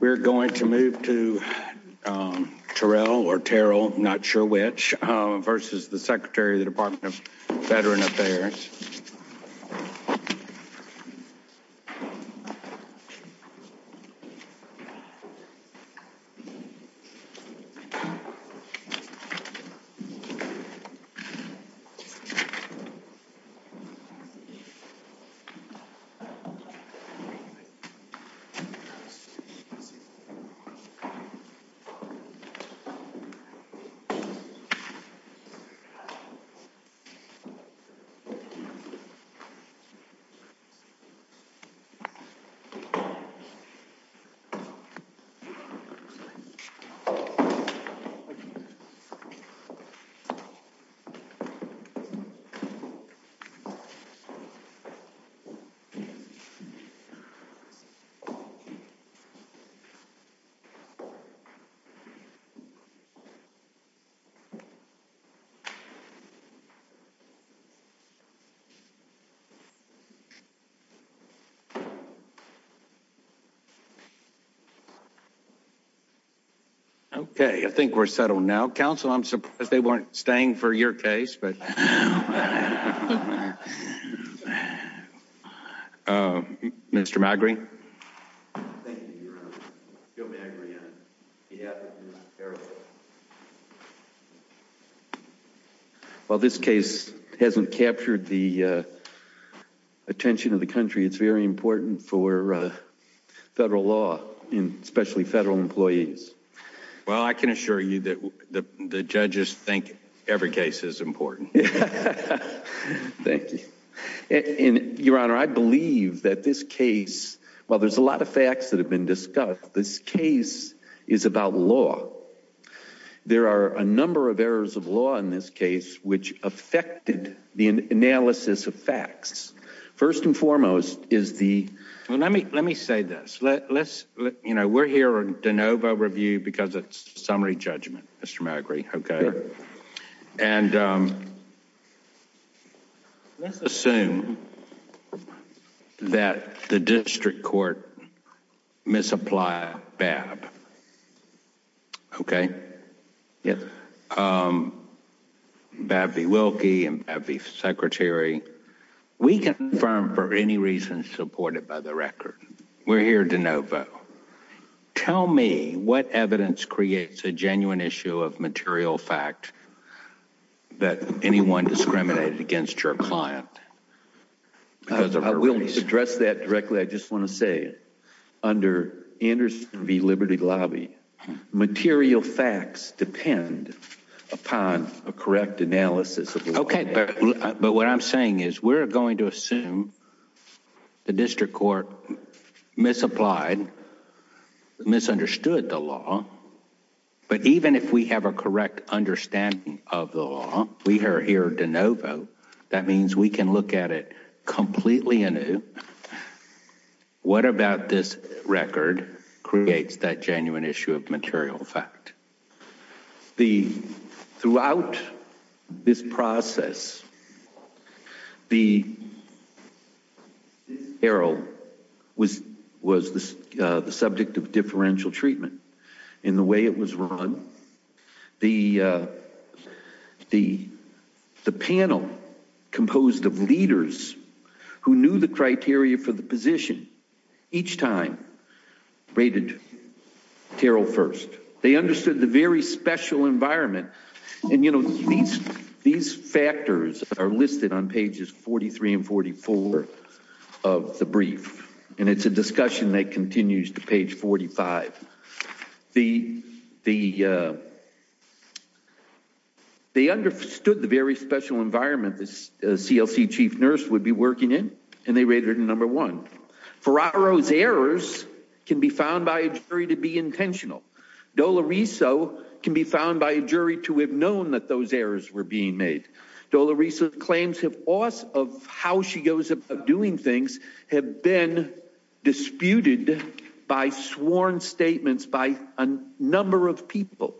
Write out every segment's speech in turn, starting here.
We're going to move to Terrell or Terrell, not sure which, versus the Secretary of the Department of Veteran Affairs. Thank you. Okay, I think we're settled now. Counsel, I'm surprised they weren't staying for your case, but. Well, this case hasn't captured the attention of the country. It's very important for federal law, especially federal employees. Well, I can assure you that the judges think every case is important. Thank you. Your Honor, I believe that this case, while there's a lot of facts that have been discussed, this case is about law. There are a number of errors of law in this case which affected the analysis of facts. First and foremost is the... Well, let me say this. We're here on de novo review because it's summary judgment, Mr. McGree. Okay? And let's assume that the district court misapplied Babb. Okay? Yes. Babb v. Wilkie and Babb v. Secretary, we confirm for any reason supported by the record. We're here de novo. Tell me what evidence creates a genuine issue of material fact that anyone discriminated against your client. I will address that directly. First of all, I just want to say under Anderson v. Liberty Lobby, material facts depend upon a correct analysis. Okay. But what I'm saying is we're going to assume the district court misapplied, misunderstood the law. But even if we have a correct understanding of the law, we are here de novo. That means we can look at it completely anew. What about this record creates that genuine issue of material fact? Throughout this process, the error was the subject of differential treatment. In the way it was run, the panel composed of leaders who knew the criteria for the position each time rated Terrell first. They understood the very special environment. And, you know, these factors are listed on pages 43 and 44 of the brief. And it's a discussion that continues to page 45. They understood the very special environment the CLC chief nurse would be working in. And they rated her number one. Ferraro's errors can be found by a jury to be intentional. Doloreso can be found by a jury to have known that those errors were being made. Doloreso's claims of how she goes about doing things have been disputed by sworn statements by a number of people.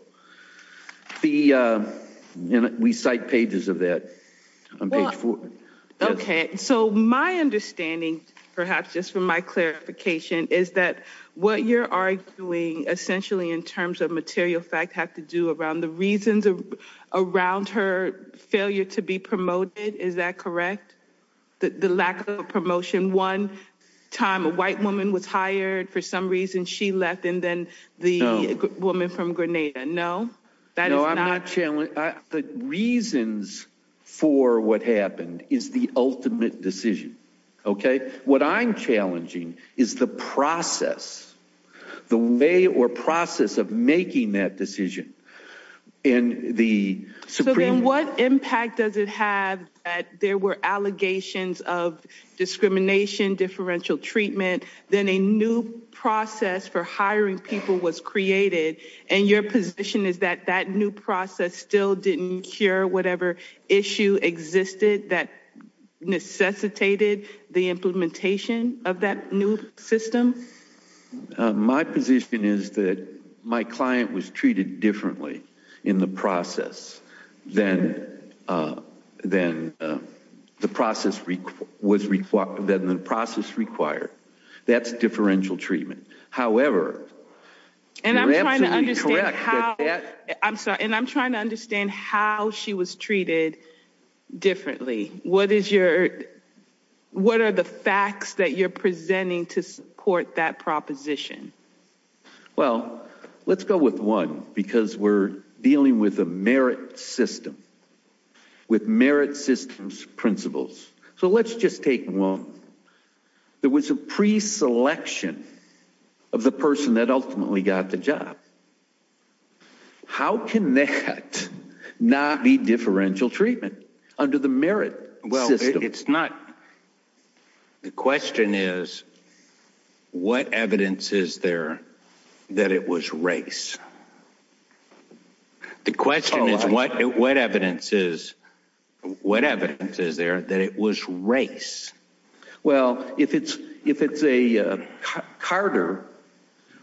We cite pages of that on page four. Okay, so my understanding, perhaps just for my clarification, is that what you're arguing essentially in terms of material fact have to do around the reasons around her failure to be promoted. Is that correct? The lack of promotion. One time a white woman was hired. For some reason, she left. And then the woman from Grenada. No. No, I'm not challenging. The reasons for what happened is the ultimate decision. Okay, what I'm challenging is the process. The way or process of making that decision in the Supreme Court. So then what impact does it have that there were allegations of discrimination, differential treatment, then a new process for hiring people was created, and your position is that that new process still didn't cure whatever issue existed that necessitated the implementation of that new system? My position is that my client was treated differently in the process than the process required. That's differential treatment. However, you're absolutely correct. And I'm trying to understand how she was treated differently. What are the facts that you're presenting to support that proposition? Well, let's go with one because we're dealing with a merit system, with merit systems principles. So let's just take one. There was a preselection of the person that ultimately got the job. How can that not be differential treatment under the merit system? Well, it's not. The question is, what evidence is there that it was race? The question is, what evidence is there that it was race? Well, if Carter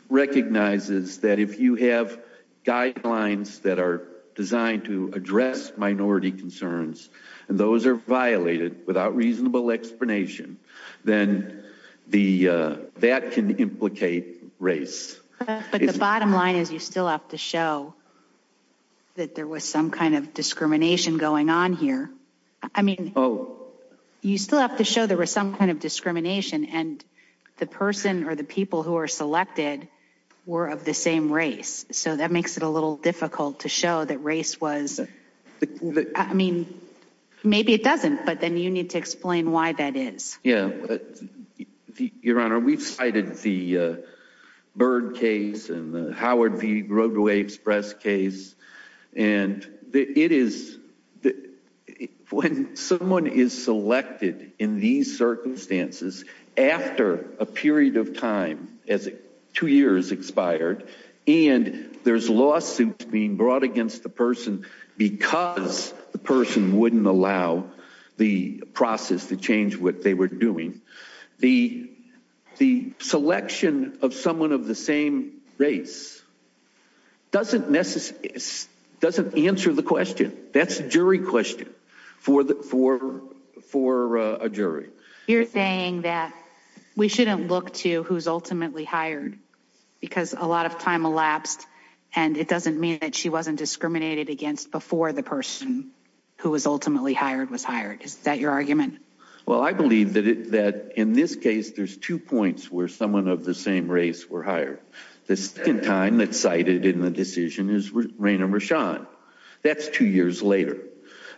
recognizes that if you have guidelines that are designed to address minority concerns, and those are violated without reasonable explanation, then that can implicate race. But the bottom line is you still have to show that there was some kind of discrimination going on here. I mean, you still have to show there was some kind of discrimination, and the person or the people who were selected were of the same race. So that makes it a little difficult to show that race was. I mean, maybe it doesn't, but then you need to explain why that is. Yeah. Your Honor, we've cited the Byrd case and the Howard v. Roadway Express case. And it is when someone is selected in these circumstances after a period of time, as two years expired, and there's lawsuits being brought against the person because the person wouldn't allow the process to change what they were doing, the selection of someone of the same race doesn't answer the question. That's a jury question for a jury. You're saying that we shouldn't look to who's ultimately hired because a lot of time elapsed, and it doesn't mean that she wasn't discriminated against before the person who was ultimately hired was hired. Is that your argument? Well, I believe that in this case there's two points where someone of the same race were hired. The second time that's cited in the decision is Raina Rashad. That's two years later.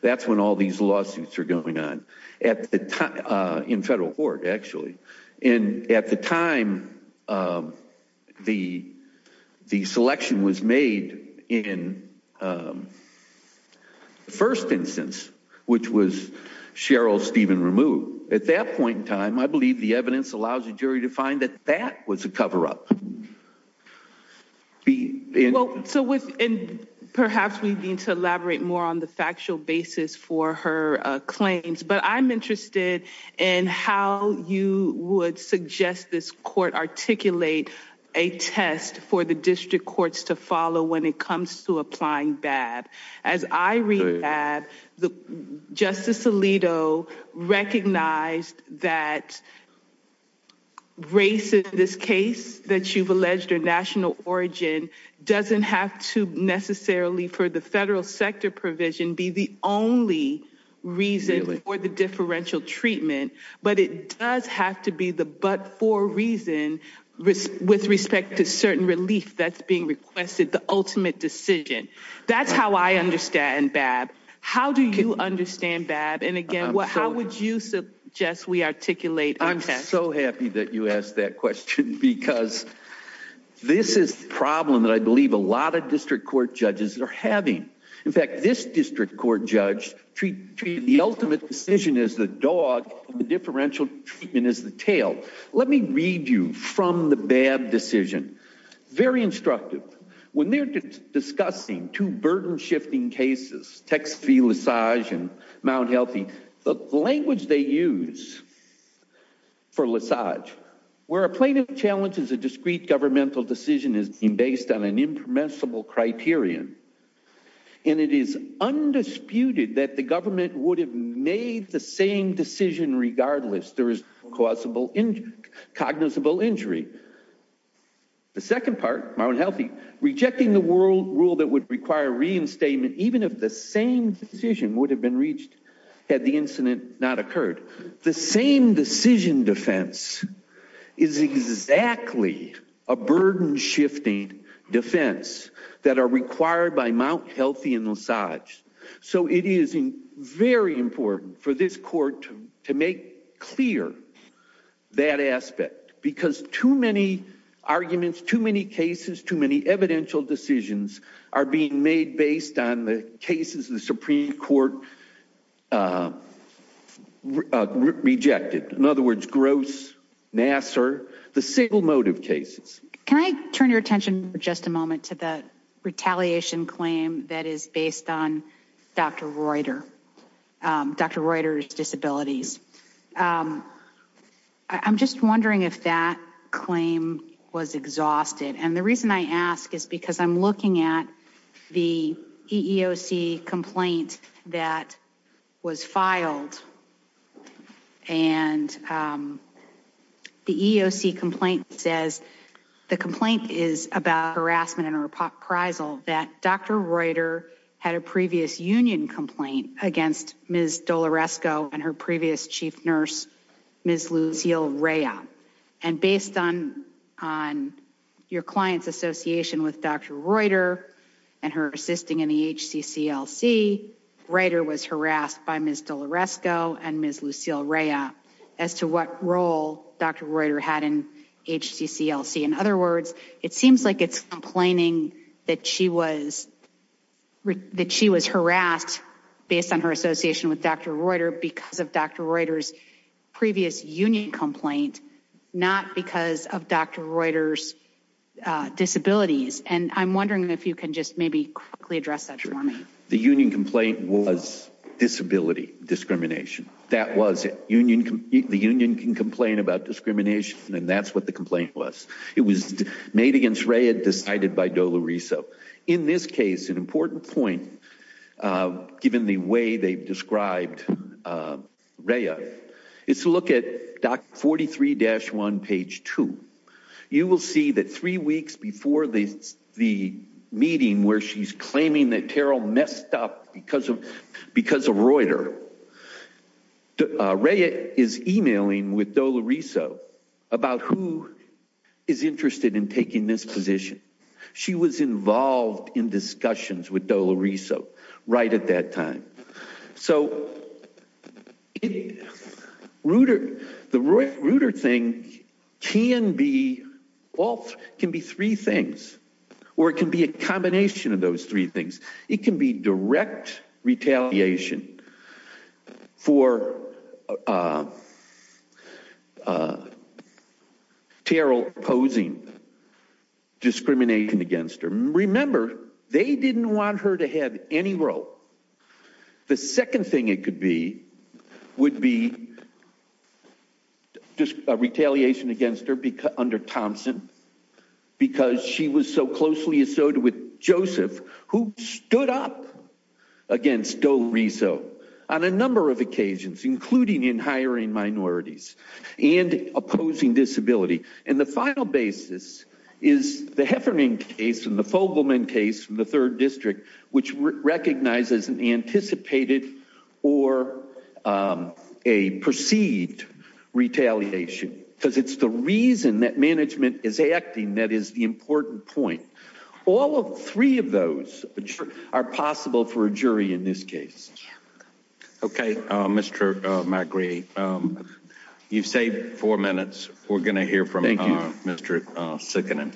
That's when all these lawsuits are going on, in federal court, actually. And at the time, the selection was made in the first instance, which was Cheryl Stephen Rameau. At that point in time, I believe the evidence allows the jury to find that that was a cover-up. Perhaps we need to elaborate more on the factual basis for her claims. But I'm interested in how you would suggest this court articulate a test for the district courts to follow when it comes to applying BAB. As I read BAB, Justice Alito recognized that race in this case that you've alleged, or national origin, doesn't have to necessarily, for the federal sector provision, be the only reason for the differential treatment, but it does have to be the but-for reason with respect to certain relief that's being requested, the ultimate decision. That's how I understand BAB. How do you understand BAB? And again, how would you suggest we articulate our test? I'm so happy that you asked that question, because this is the problem that I believe a lot of district court judges are having. In fact, this district court judge treated the ultimate decision as the dog, and the differential treatment as the tail. Let me read you from the BAB decision. Very instructive. When they're discussing two burden-shifting cases, Texas v. LaSage and Mount Healthy, the language they use for LaSage, where a plaintiff challenges a discrete governmental decision based on an impermissible criterion, and it is undisputed that the government would have made the same decision regardless. There is no causable, cognizable injury. The second part, Mount Healthy, rejecting the rule that would require reinstatement, even if the same decision would have been reached had the incident not occurred. The same decision defense is exactly a burden-shifting defense that are required by Mount Healthy and LaSage. So it is very important for this court to make clear that aspect, because too many arguments, too many cases, too many evidential decisions are being made based on the cases the Supreme Court rejected. In other words, Gross, Nassar, the single motive cases. Can I turn your attention for just a moment to the retaliation claim that is based on Dr. Reuter, Dr. Reuter's disabilities? I'm just wondering if that claim was exhausted. And the reason I ask is because I'm looking at the EEOC complaint that was filed. And the EEOC complaint says the complaint is about harassment and reprisal that Dr. Reuter had a previous union complaint against Ms. Doloresco and her previous chief nurse, Ms. Lucille Rea. And based on your client's association with Dr. Reuter and her assisting in the HCCLC, Dr. Reuter was harassed by Ms. Doloresco and Ms. Lucille Rea as to what role Dr. Reuter had in HCCLC. In other words, it seems like it's complaining that she was harassed based on her association with Dr. Reuter because of Dr. Reuter's previous union complaint, not because of Dr. Reuter's disabilities. And I'm wondering if you can just maybe quickly address that for me. The union complaint was disability discrimination. That was it. The union can complain about discrimination, and that's what the complaint was. It was made against Rea, decided by Doloresco. In this case, an important point, given the way they've described Rea, is to look at 43-1, page 2. You will see that three weeks before the meeting where she's claiming that Terrell messed up because of Reuter, Rea is emailing with Doloresco about who is interested in taking this position. She was involved in discussions with Doloresco right at that time. So the Reuter thing can be three things, or it can be a combination of those three things. It can be direct retaliation for Terrell opposing discrimination against her. Remember, they didn't want her to have any role. The second thing it could be would be just a retaliation against her under Thompson because she was so closely associated with Joseph, who stood up against Doloresco on a number of occasions, including in hiring minorities and opposing disability. And the final basis is the Heffernan case and the Fogelman case in the third district, which recognizes an anticipated or a perceived retaliation because it's the reason that management is acting that is the important point. All three of those are possible for a jury in this case. OK, Mr. McGree, you've saved four minutes. We're going to hear from Mr. Sikkanen.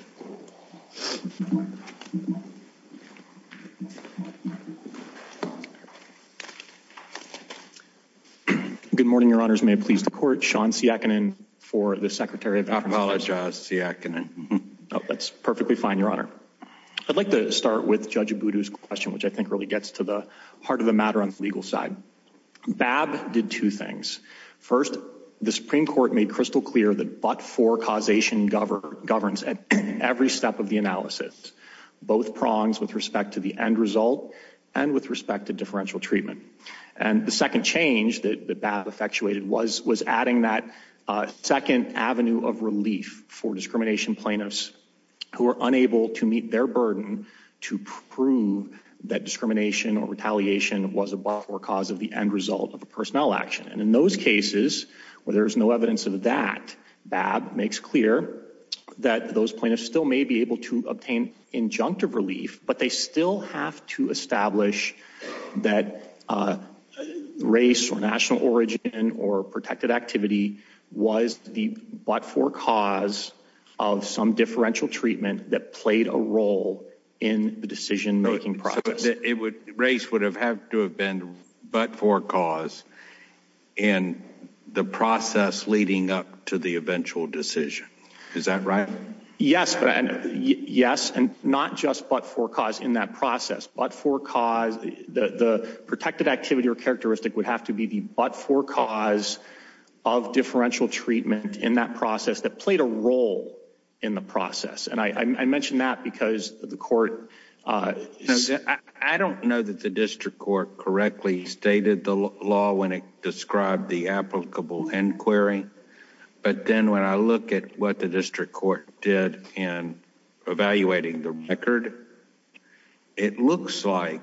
Good morning, Your Honor. May it please the court. Sean Siakkanen for the Secretary of Justice. I apologize, Siakkanen. That's perfectly fine, Your Honor. I'd like to start with Judge Abudu's question, which I think really gets to the heart of the matter on the legal side. Babb did two things. First, the Supreme Court made crystal clear that but-for causation governs every step of the analysis, both prongs with respect to the end result and with respect to differential treatment. And the second change that Babb effectuated was adding that second avenue of relief for discrimination plaintiffs who are unable to meet their burden to prove that discrimination or retaliation was a but-for cause of the end result of a personnel action. And in those cases where there is no evidence of that, Babb makes clear that those plaintiffs still may be able to obtain injunctive relief, but they still have to establish that race or national origin or protected activity was the but-for cause of some differential treatment that played a role in the decision-making process. So race would have to have been but-for cause in the process leading up to the eventual decision. Is that right? Yes, and not just but-for cause in that process. But-for cause, the protected activity or characteristic would have to be the but-for cause of differential treatment in that process that played a role in the process. And I mention that because the court... I don't know that the district court correctly stated the law when it described the applicable inquiry, but then when I look at what the district court did in evaluating the record, it looks like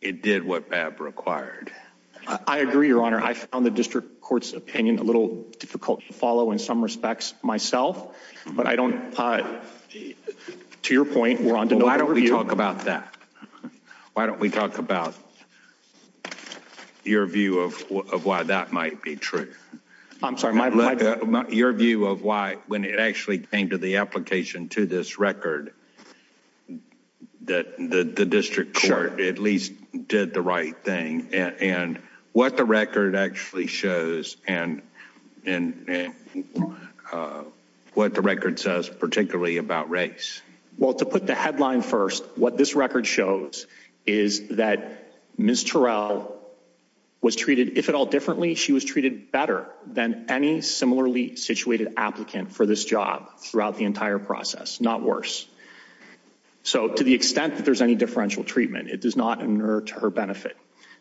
it did what Babb required. I agree, Your Honor. I found the district court's opinion a little difficult to follow in some respects myself, but I don't... To your point... Why don't we talk about that? Why don't we talk about your view of why that might be true? I'm sorry, my... Your view of why, when it actually came to the application to this record, that the district court at least did the right thing. And what the record actually shows and what the record says particularly about race. Well, to put the headline first, what this record shows is that Ms. Terrell was treated, if at all differently, she was treated better than any similarly situated applicant for this job throughout the entire process, not worse. So, to the extent that there's any differential treatment, it does not inert her benefit.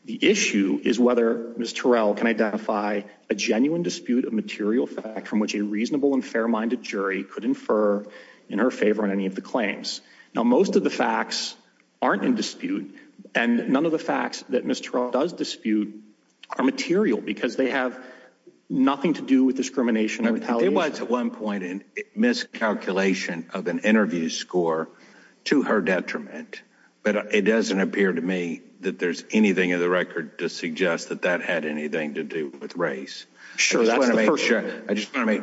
The issue is whether Ms. Terrell can identify a genuine dispute of material fact from which a reasonable and fair-minded jury could infer in her favor on any of the claims. Now, most of the facts aren't in dispute, and none of the facts that Ms. Terrell does dispute are material because they have nothing to do with discrimination or retaliation. There was at one point a miscalculation of an interview score to her detriment, but it doesn't appear to me that there's anything in the record to suggest that that had anything to do with race. Sure, that's the first... Well, a few points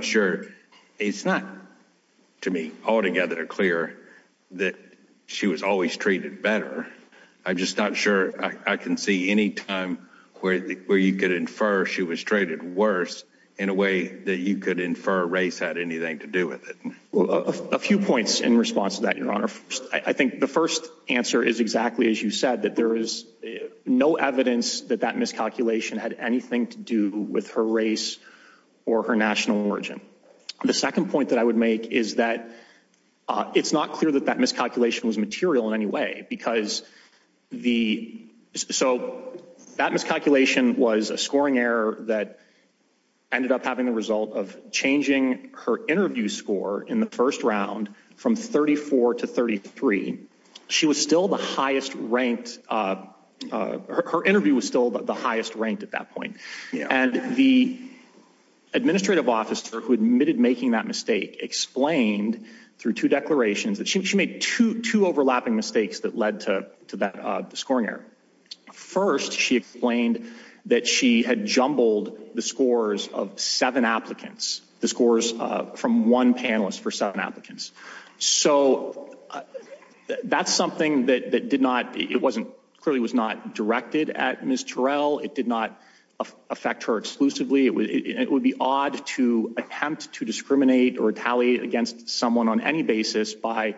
in response to that, Your Honor. I think the first answer is exactly as you said, that there is no evidence that that miscalculation had anything to do with her race or her national origin. The second point that I would make is that it's not clear that that miscalculation was material in any way because the... So, that miscalculation was a scoring error that ended up having the result of changing her interview score in the first round from 34 to 33. She was still the highest ranked... Her interview was still the highest ranked at that point. And the administrative officer who admitted making that mistake explained through two declarations that she made two overlapping mistakes that led to that scoring error. First, she explained that she had jumbled the scores of seven applicants, the scores from one panelist for seven applicants. So, that's something that clearly was not directed at Ms. Terrell. It did not affect her exclusively. It would be odd to attempt to discriminate or retaliate against someone on any basis by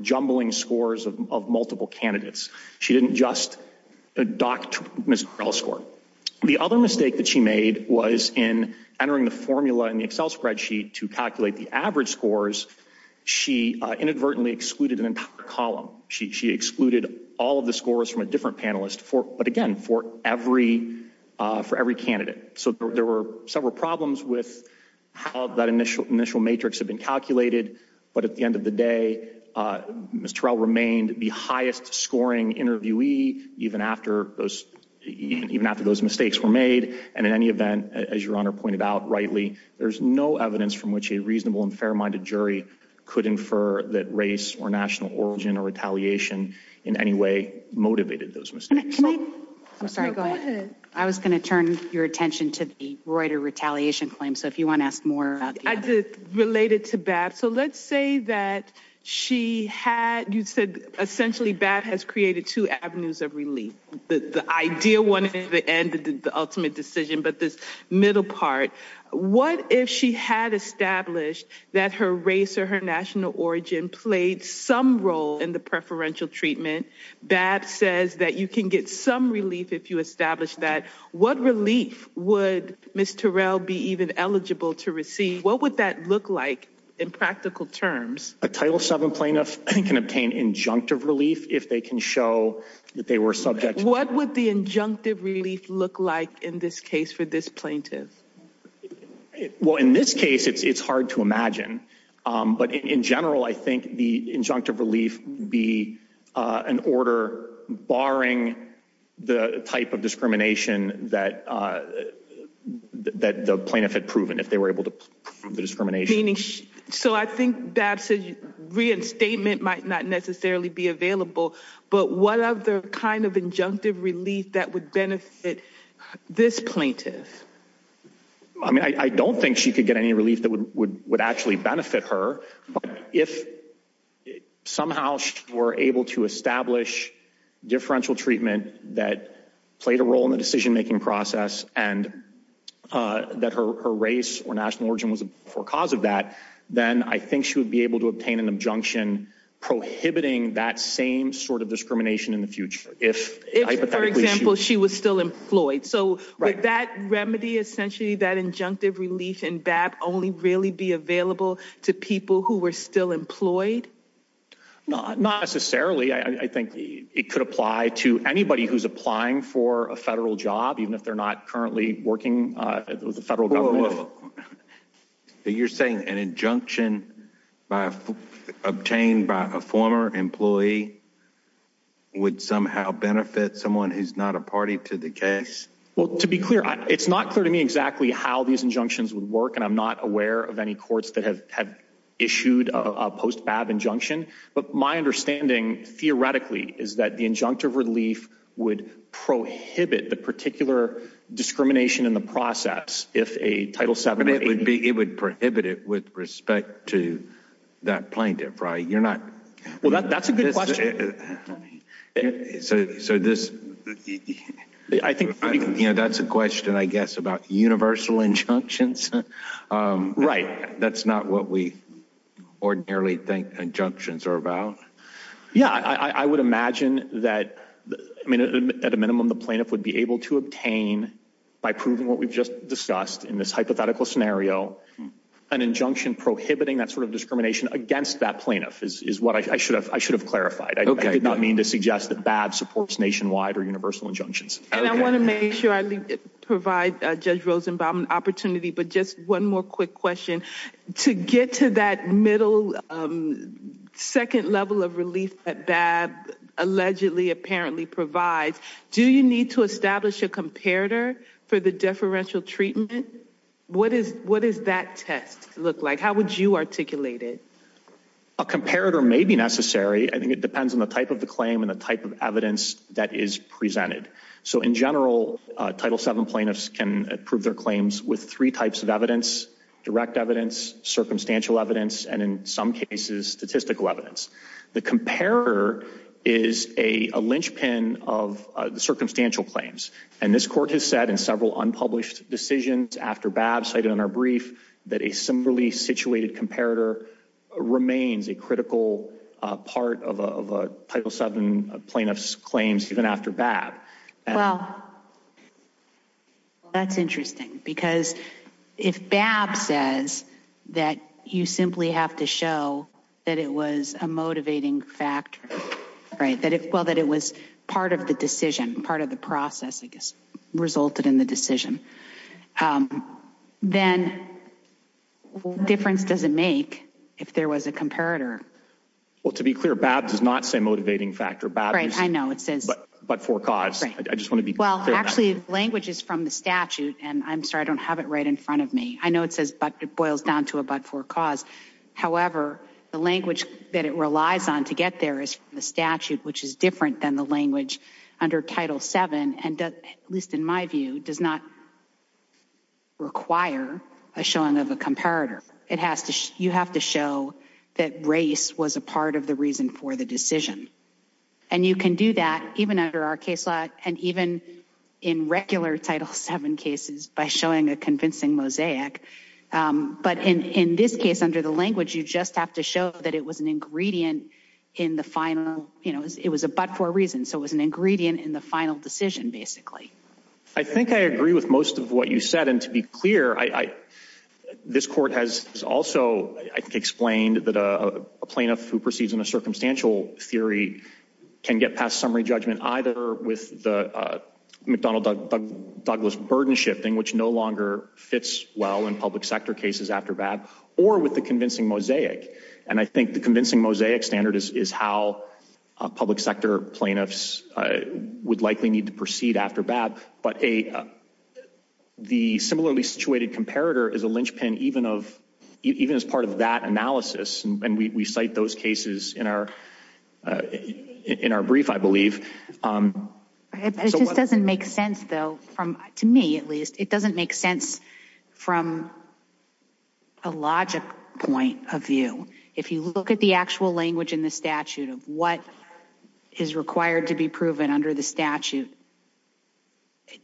jumbling scores of multiple candidates. She didn't just dock Ms. Terrell's score. The other mistake that she made was in entering the formula in the Excel spreadsheet to calculate the average scores. She inadvertently excluded an entire column. She excluded all of the scores from a different panelist, but again, for every candidate. So, there were several problems with how that initial matrix had been calculated. But at the end of the day, Ms. Terrell remained the highest scoring interviewee even after those mistakes were made. And in any event, as Your Honor pointed out rightly, there's no evidence from which a reasonable and fair-minded jury could infer that race or national origin or retaliation in any way motivated those mistakes. I'm sorry, go ahead. I was going to turn your attention to the Reuter retaliation claim. So, if you want to ask more... This is related to Babb. So, let's say that she had... You said essentially Babb has created two avenues of relief. The ideal one at the end, the ultimate decision, but this middle part. What if she had established that her race or her national origin played some role in the preferential treatment? Babb says that you can get some relief if you establish that. What relief would Ms. Terrell be even eligible to receive? What would that look like in practical terms? A Title VII plaintiff can obtain injunctive relief if they can show that they were subject... What would the injunctive relief look like in this case for this plaintiff? Well, in this case, it's hard to imagine. But in general, I think the injunctive relief would be an order barring the type of discrimination that the plaintiff had proven, if they were able to prove the discrimination. So, I think Babb's reinstatement might not necessarily be available. But what other kind of injunctive relief that would benefit this plaintiff? I mean, I don't think she could get any relief that would actually benefit her. But if somehow she were able to establish differential treatment that played a role in the decision-making process, and that her race or national origin was a cause of that, then I think she would be able to obtain an injunction prohibiting that same sort of discrimination in the future. If, for example, she was still employed. So, would that remedy, essentially, that injunctive relief in Babb, only really be available to people who were still employed? Not necessarily. I think it could apply to anybody who's applying for a federal job, even if they're not currently working with the federal government. You're saying an injunction obtained by a former employee would somehow benefit someone who's not a party to the case? Well, to be clear, it's not clear to me exactly how these injunctions would work, and I'm not aware of any courts that have issued a post-Babb injunction. But my understanding, theoretically, is that the injunctive relief would prohibit the particular discrimination in the process It would prohibit it with respect to that plaintiff, right? Well, that's a good question. That's a question, I guess, about universal injunctions. Right. That's not what we ordinarily think injunctions are about. Yeah, I would imagine that, at a minimum, the plaintiff would be able to obtain, by proving what we've just discussed in this hypothetical scenario, an injunction prohibiting that sort of discrimination against that plaintiff, is what I should have clarified. I did not mean to suggest that Babb supports nationwide or universal injunctions. And I want to make sure I provide Judge Rosenbaum an opportunity, but just one more quick question. To get to that middle, second level of relief that Babb allegedly, apparently provides, do you need to establish a comparator for the deferential treatment? What does that test look like? How would you articulate it? A comparator may be necessary. I think it depends on the type of the claim and the type of evidence that is presented. So, in general, Title VII plaintiffs can prove their claims with three types of evidence, direct evidence, circumstantial evidence, and in some cases, statistical evidence. The comparator is a linchpin of the circumstantial claims. And this Court has said in several unpublished decisions after Babb, cited in our brief, that a similarly situated comparator remains a critical part of a Title VII plaintiff's claims, even after Babb. Well, that's interesting. Because if Babb says that you simply have to show that it was a motivating factor, that it was part of the decision, part of the process that resulted in the decision, then what difference does it make if there was a comparator? Well, to be clear, Babb does not say motivating factor. Babb is but-for-cause. Well, actually, the language is from the statute, and I'm sorry, I don't have it right in front of me. I know it boils down to a but-for-cause. However, the language that it relies on to get there is from the statute, which is different than the language under Title VII, and at least in my view, does not require a showing of a comparator. You have to show that race was a part of the reason for the decision. And you can do that even under our case law and even in regular Title VII cases by showing a convincing mosaic. But in this case, under the language, you just have to show that it was an ingredient in the final – I think I agree with most of what you said. And to be clear, this Court has also, I think, explained that a plaintiff who proceeds in a circumstantial theory can get past summary judgment either with the McDonnell-Douglas burden shifting, which no longer fits well in public sector cases after Babb, or with the convincing mosaic. And I think the convincing mosaic standard is how public sector plaintiffs would likely need to proceed after Babb. But the similarly situated comparator is a linchpin even as part of that analysis. And we cite those cases in our brief, I believe. It just doesn't make sense, though, to me at least. It doesn't make sense from a logic point of view. If you look at the actual language in the statute of what is required to be proven under the statute,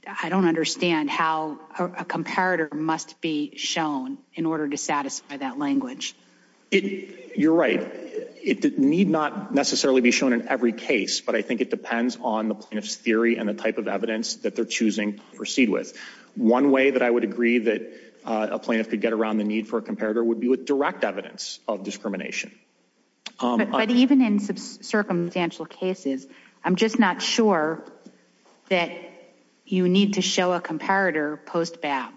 I don't understand how a comparator must be shown in order to satisfy that language. You're right. It need not necessarily be shown in every case, but I think it depends on the plaintiff's theory and the type of evidence that they're choosing to proceed with. One way that I would agree that a plaintiff could get around the need for a comparator would be with direct evidence of discrimination. But even in circumstantial cases, I'm just not sure that you need to show a comparator post-Babb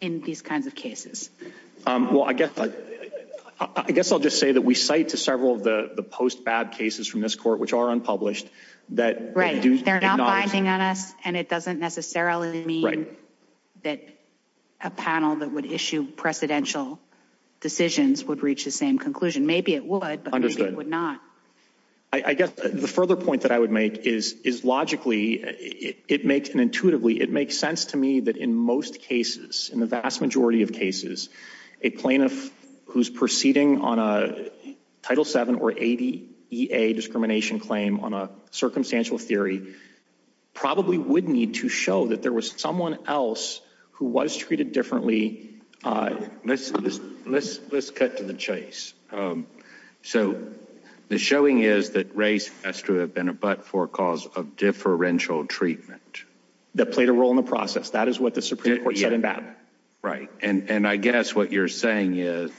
in these kinds of cases. Well, I guess I'll just say that we cite to several of the post-Babb cases from this court, which are unpublished. Right. They're not binding on us, and it doesn't necessarily mean that a panel that would issue precedential decisions would reach the same conclusion. Maybe it would, but maybe it would not. I guess the further point that I would make is logically, it makes, and intuitively, it makes sense to me that in most cases, in the vast majority of cases, a plaintiff who's proceeding on a Title VII or 80 EA discrimination claim on a circumstantial theory probably would need to show that there was someone else who was treated differently. Let's cut to the chase. So the showing is that race has to have been a but-for cause of differential treatment. That played a role in the process. That is what the Supreme Court said in Babb. Right. And I guess what you're saying is,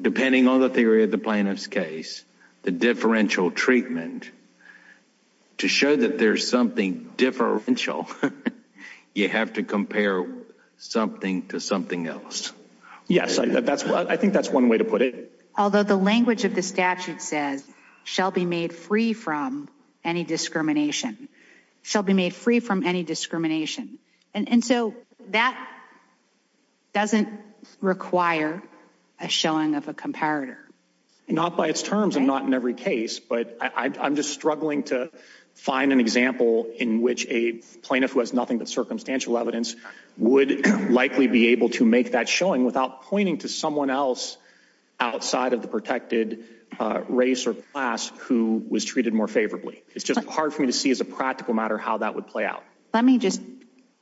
depending on the theory of the plaintiff's case, the differential treatment, to show that there's something differential, you have to compare something to something else. Yes, I think that's one way to put it. Although the language of the statute says, shall be made free from any discrimination. And so that doesn't require a showing of a comparator. Not by its terms, and not in every case, but I'm just struggling to find an example in which a plaintiff who has nothing but circumstantial evidence would likely be able to make that showing without pointing to someone else outside of the protected race or class who was treated more favorably. It's just hard for me to see as a practical matter how that would play out. Let me just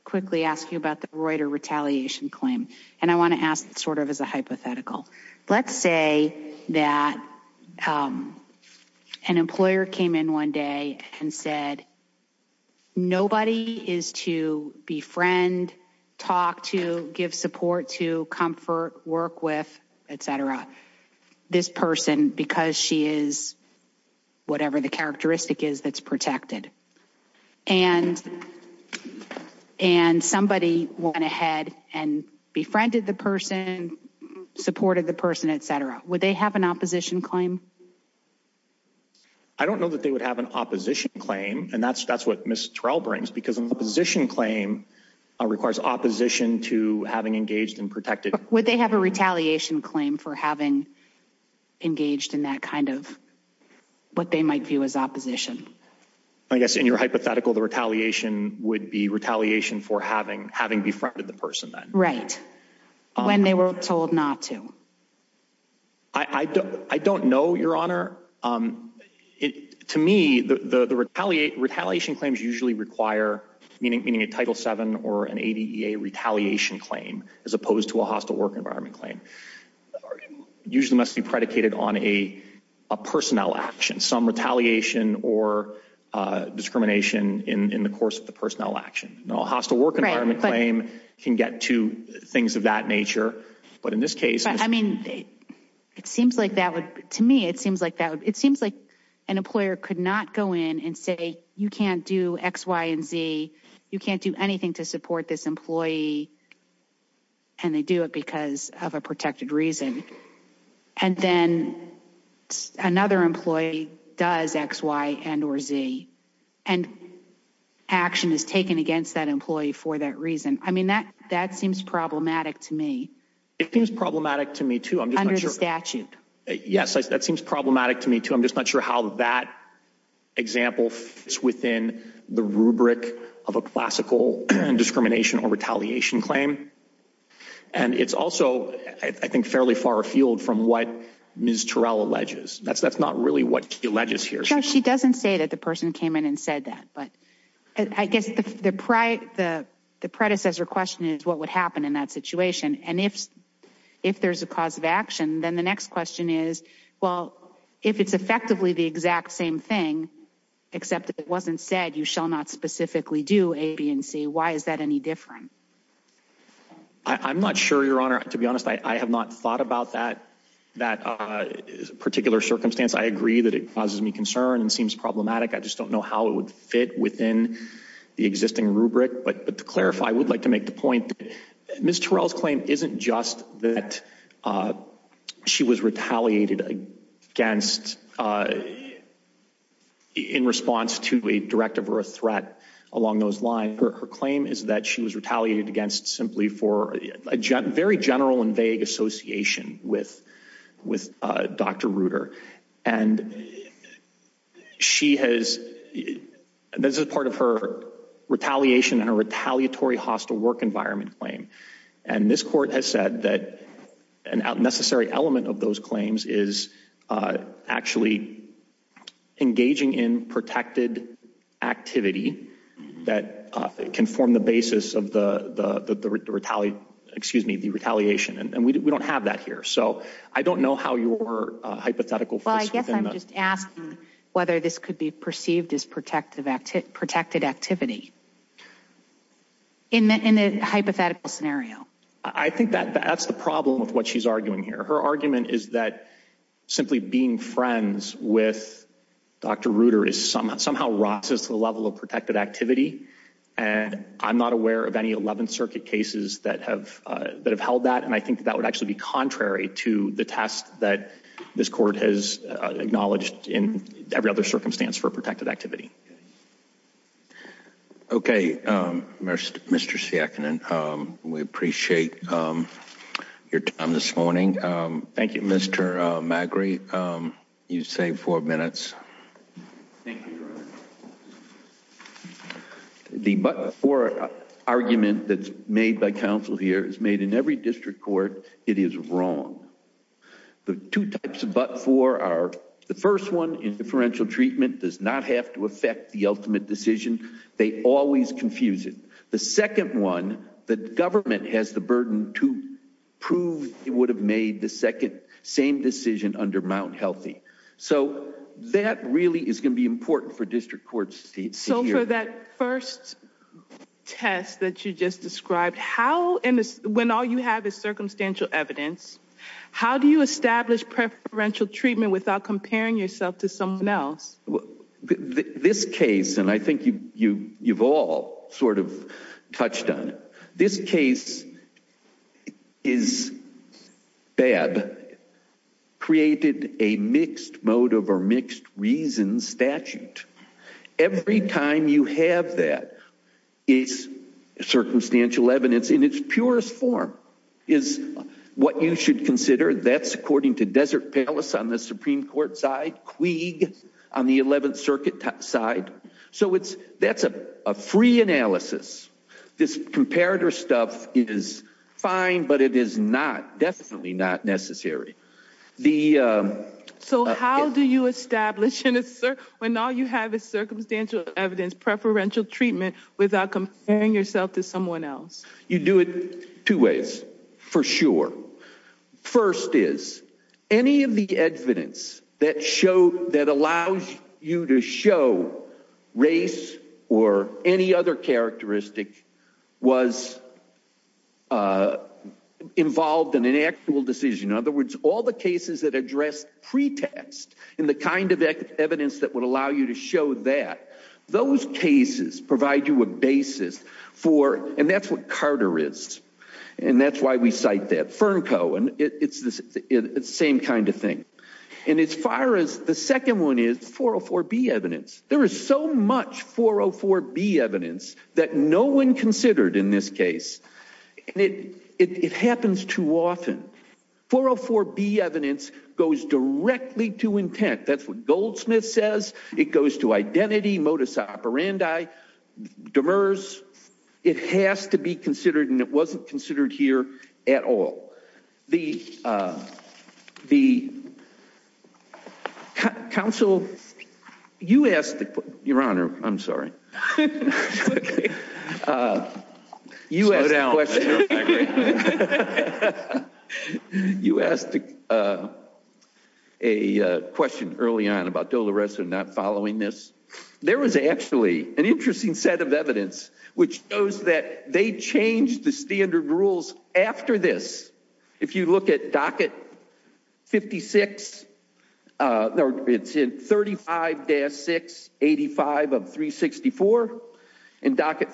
quickly ask you about the Reuter retaliation claim. And I want to ask sort of as a hypothetical. Let's say that an employer came in one day and said, nobody is to befriend, talk to, give support to, comfort, work with, etc. This person, because she is whatever the characteristic is that's protected. And somebody went ahead and befriended the person, supported the person, etc. Would they have an opposition claim? I don't know that they would have an opposition claim. And that's what Ms. Terrell brings. Because an opposition claim requires opposition to having engaged in protected. Would they have a retaliation claim for having engaged in that kind of, what they might view as opposition? I guess in your hypothetical, the retaliation would be retaliation for having befriended the person. Right. When they were told not to. I don't know, Your Honor. To me, the retaliation claims usually require, meaning a Title VII or an ADEA retaliation claim, as opposed to a hostile work environment claim. Usually must be predicated on a personnel action. Some retaliation or discrimination in the course of the personnel action. A hostile work environment claim can get to things of that nature. But in this case, I mean, it seems like that would, to me, it seems like that would, it seems like an employer could not go in and say, you can't do X, Y, and Z. You can't do anything to support this employee. And they do it because of a protected reason. And then another employee does X, Y, and or Z. And action is taken against that employee for that reason. I mean, that seems problematic to me. It seems problematic to me, too. Under the statute. Yes, that seems problematic to me, too. I'm just not sure how that example fits within the rubric of a classical discrimination or retaliation claim. And it's also, I think, fairly far afield from what Ms. Terrell alleges. That's not really what she alleges here. She doesn't say that the person came in and said that. But I guess the predecessor question is what would happen in that situation. And if there's a cause of action, then the next question is, well, if it's effectively the exact same thing, except it wasn't said you shall not specifically do A, B, and C, why is that any different? I'm not sure, Your Honor. To be honest, I have not thought about that particular circumstance. I agree that it causes me concern and seems problematic. I just don't know how it would fit within the existing rubric. But to clarify, I would like to make the point that Ms. Terrell's claim isn't just that she was retaliated against in response to a directive or a threat along those lines. Her claim is that she was retaliated against simply for a very general and vague association with Dr. Reuter. And this is part of her retaliation and her retaliatory hostile work environment claim. And this court has said that an unnecessary element of those claims is actually engaging in protected activity that can form the basis of the retaliation. And we don't have that here. So I don't know how your hypothetical fits within that. Well, I guess I'm just asking whether this could be perceived as protected activity. In the hypothetical scenario. I think that's the problem with what she's arguing here. Her argument is that simply being friends with Dr. Reuter somehow rises to the level of protected activity. And I'm not aware of any 11th Circuit cases that have held that, and I think that would actually be contrary to the test that this court has acknowledged in every other circumstance for protected activity. Okay, Mr. Saekinen, we appreciate your time this morning. Thank you. Mr. Magri, you saved four minutes. Thank you, Your Honor. The but-for argument that's made by counsel here is made in every district court. It is wrong. The two types of but-for are the first one, preferential treatment does not have to affect the ultimate decision. They always confuse it. The second one, the government has the burden to prove they would have made the same decision under Mount Healthy. So that really is going to be important for district courts to hear. So for that first test that you just described, when all you have is circumstantial evidence, how do you establish preferential treatment without comparing yourself to someone else? This case, and I think you've all sort of touched on it, this case is bad, created a mixed motive or mixed reason statute. Every time you have that, circumstantial evidence in its purest form is what you should consider. That's according to Desert Palace on the Supreme Court side, Quig on the 11th Circuit side. So that's a free analysis. This comparator stuff is fine, but it is definitely not necessary. So how do you establish when all you have is circumstantial evidence, preferential treatment without comparing yourself to someone else? You do it two ways, for sure. First is, any of the evidence that allows you to show race or any other characteristic was involved in an actual decision. In other words, all the cases that address pretext and the kind of evidence that would allow you to show that, those cases provide you a basis for, and that's what Carter is, and that's why we cite that. FERNCO, it's the same kind of thing. And as far as the second one is, 404B evidence. There is so much 404B evidence that no one considered in this case. It happens too often. 404B evidence goes directly to intent. That's what Goldsmith says. It goes to identity, modus operandi, demurs. It has to be considered, and it wasn't considered here at all. Counsel, you asked the question. Your Honor, I'm sorry. Slow down. You asked a question early on about Dolores not following this. There was actually an interesting set of evidence which shows that they changed the standard rules after this. If you look at docket 56, it's in 35-685 of 364. In docket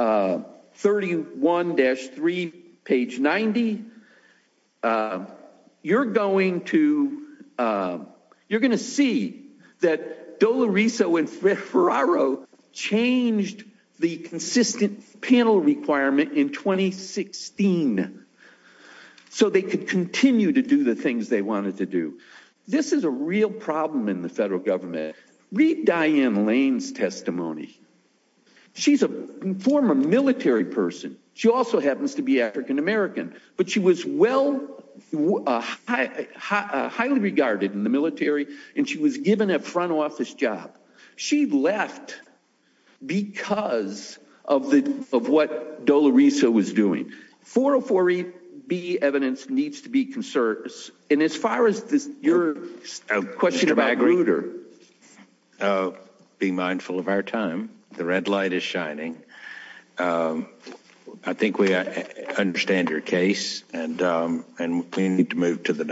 31-3, page 90, you're going to see that Dolores and Ferraro changed the consistent panel requirement in 2016 so they could continue to do the things they wanted to do. This is a real problem in the federal government. Read Diane Lane's testimony. She's a former military person. She also happens to be African American, but she was highly regarded in the military, and she was given a front office job. She left because of what Dolores was doing. 404-B evidence needs to be considered. And as far as your question about Grutter. Be mindful of our time. The red light is shining. I think we understand your case, and we need to move to the next one.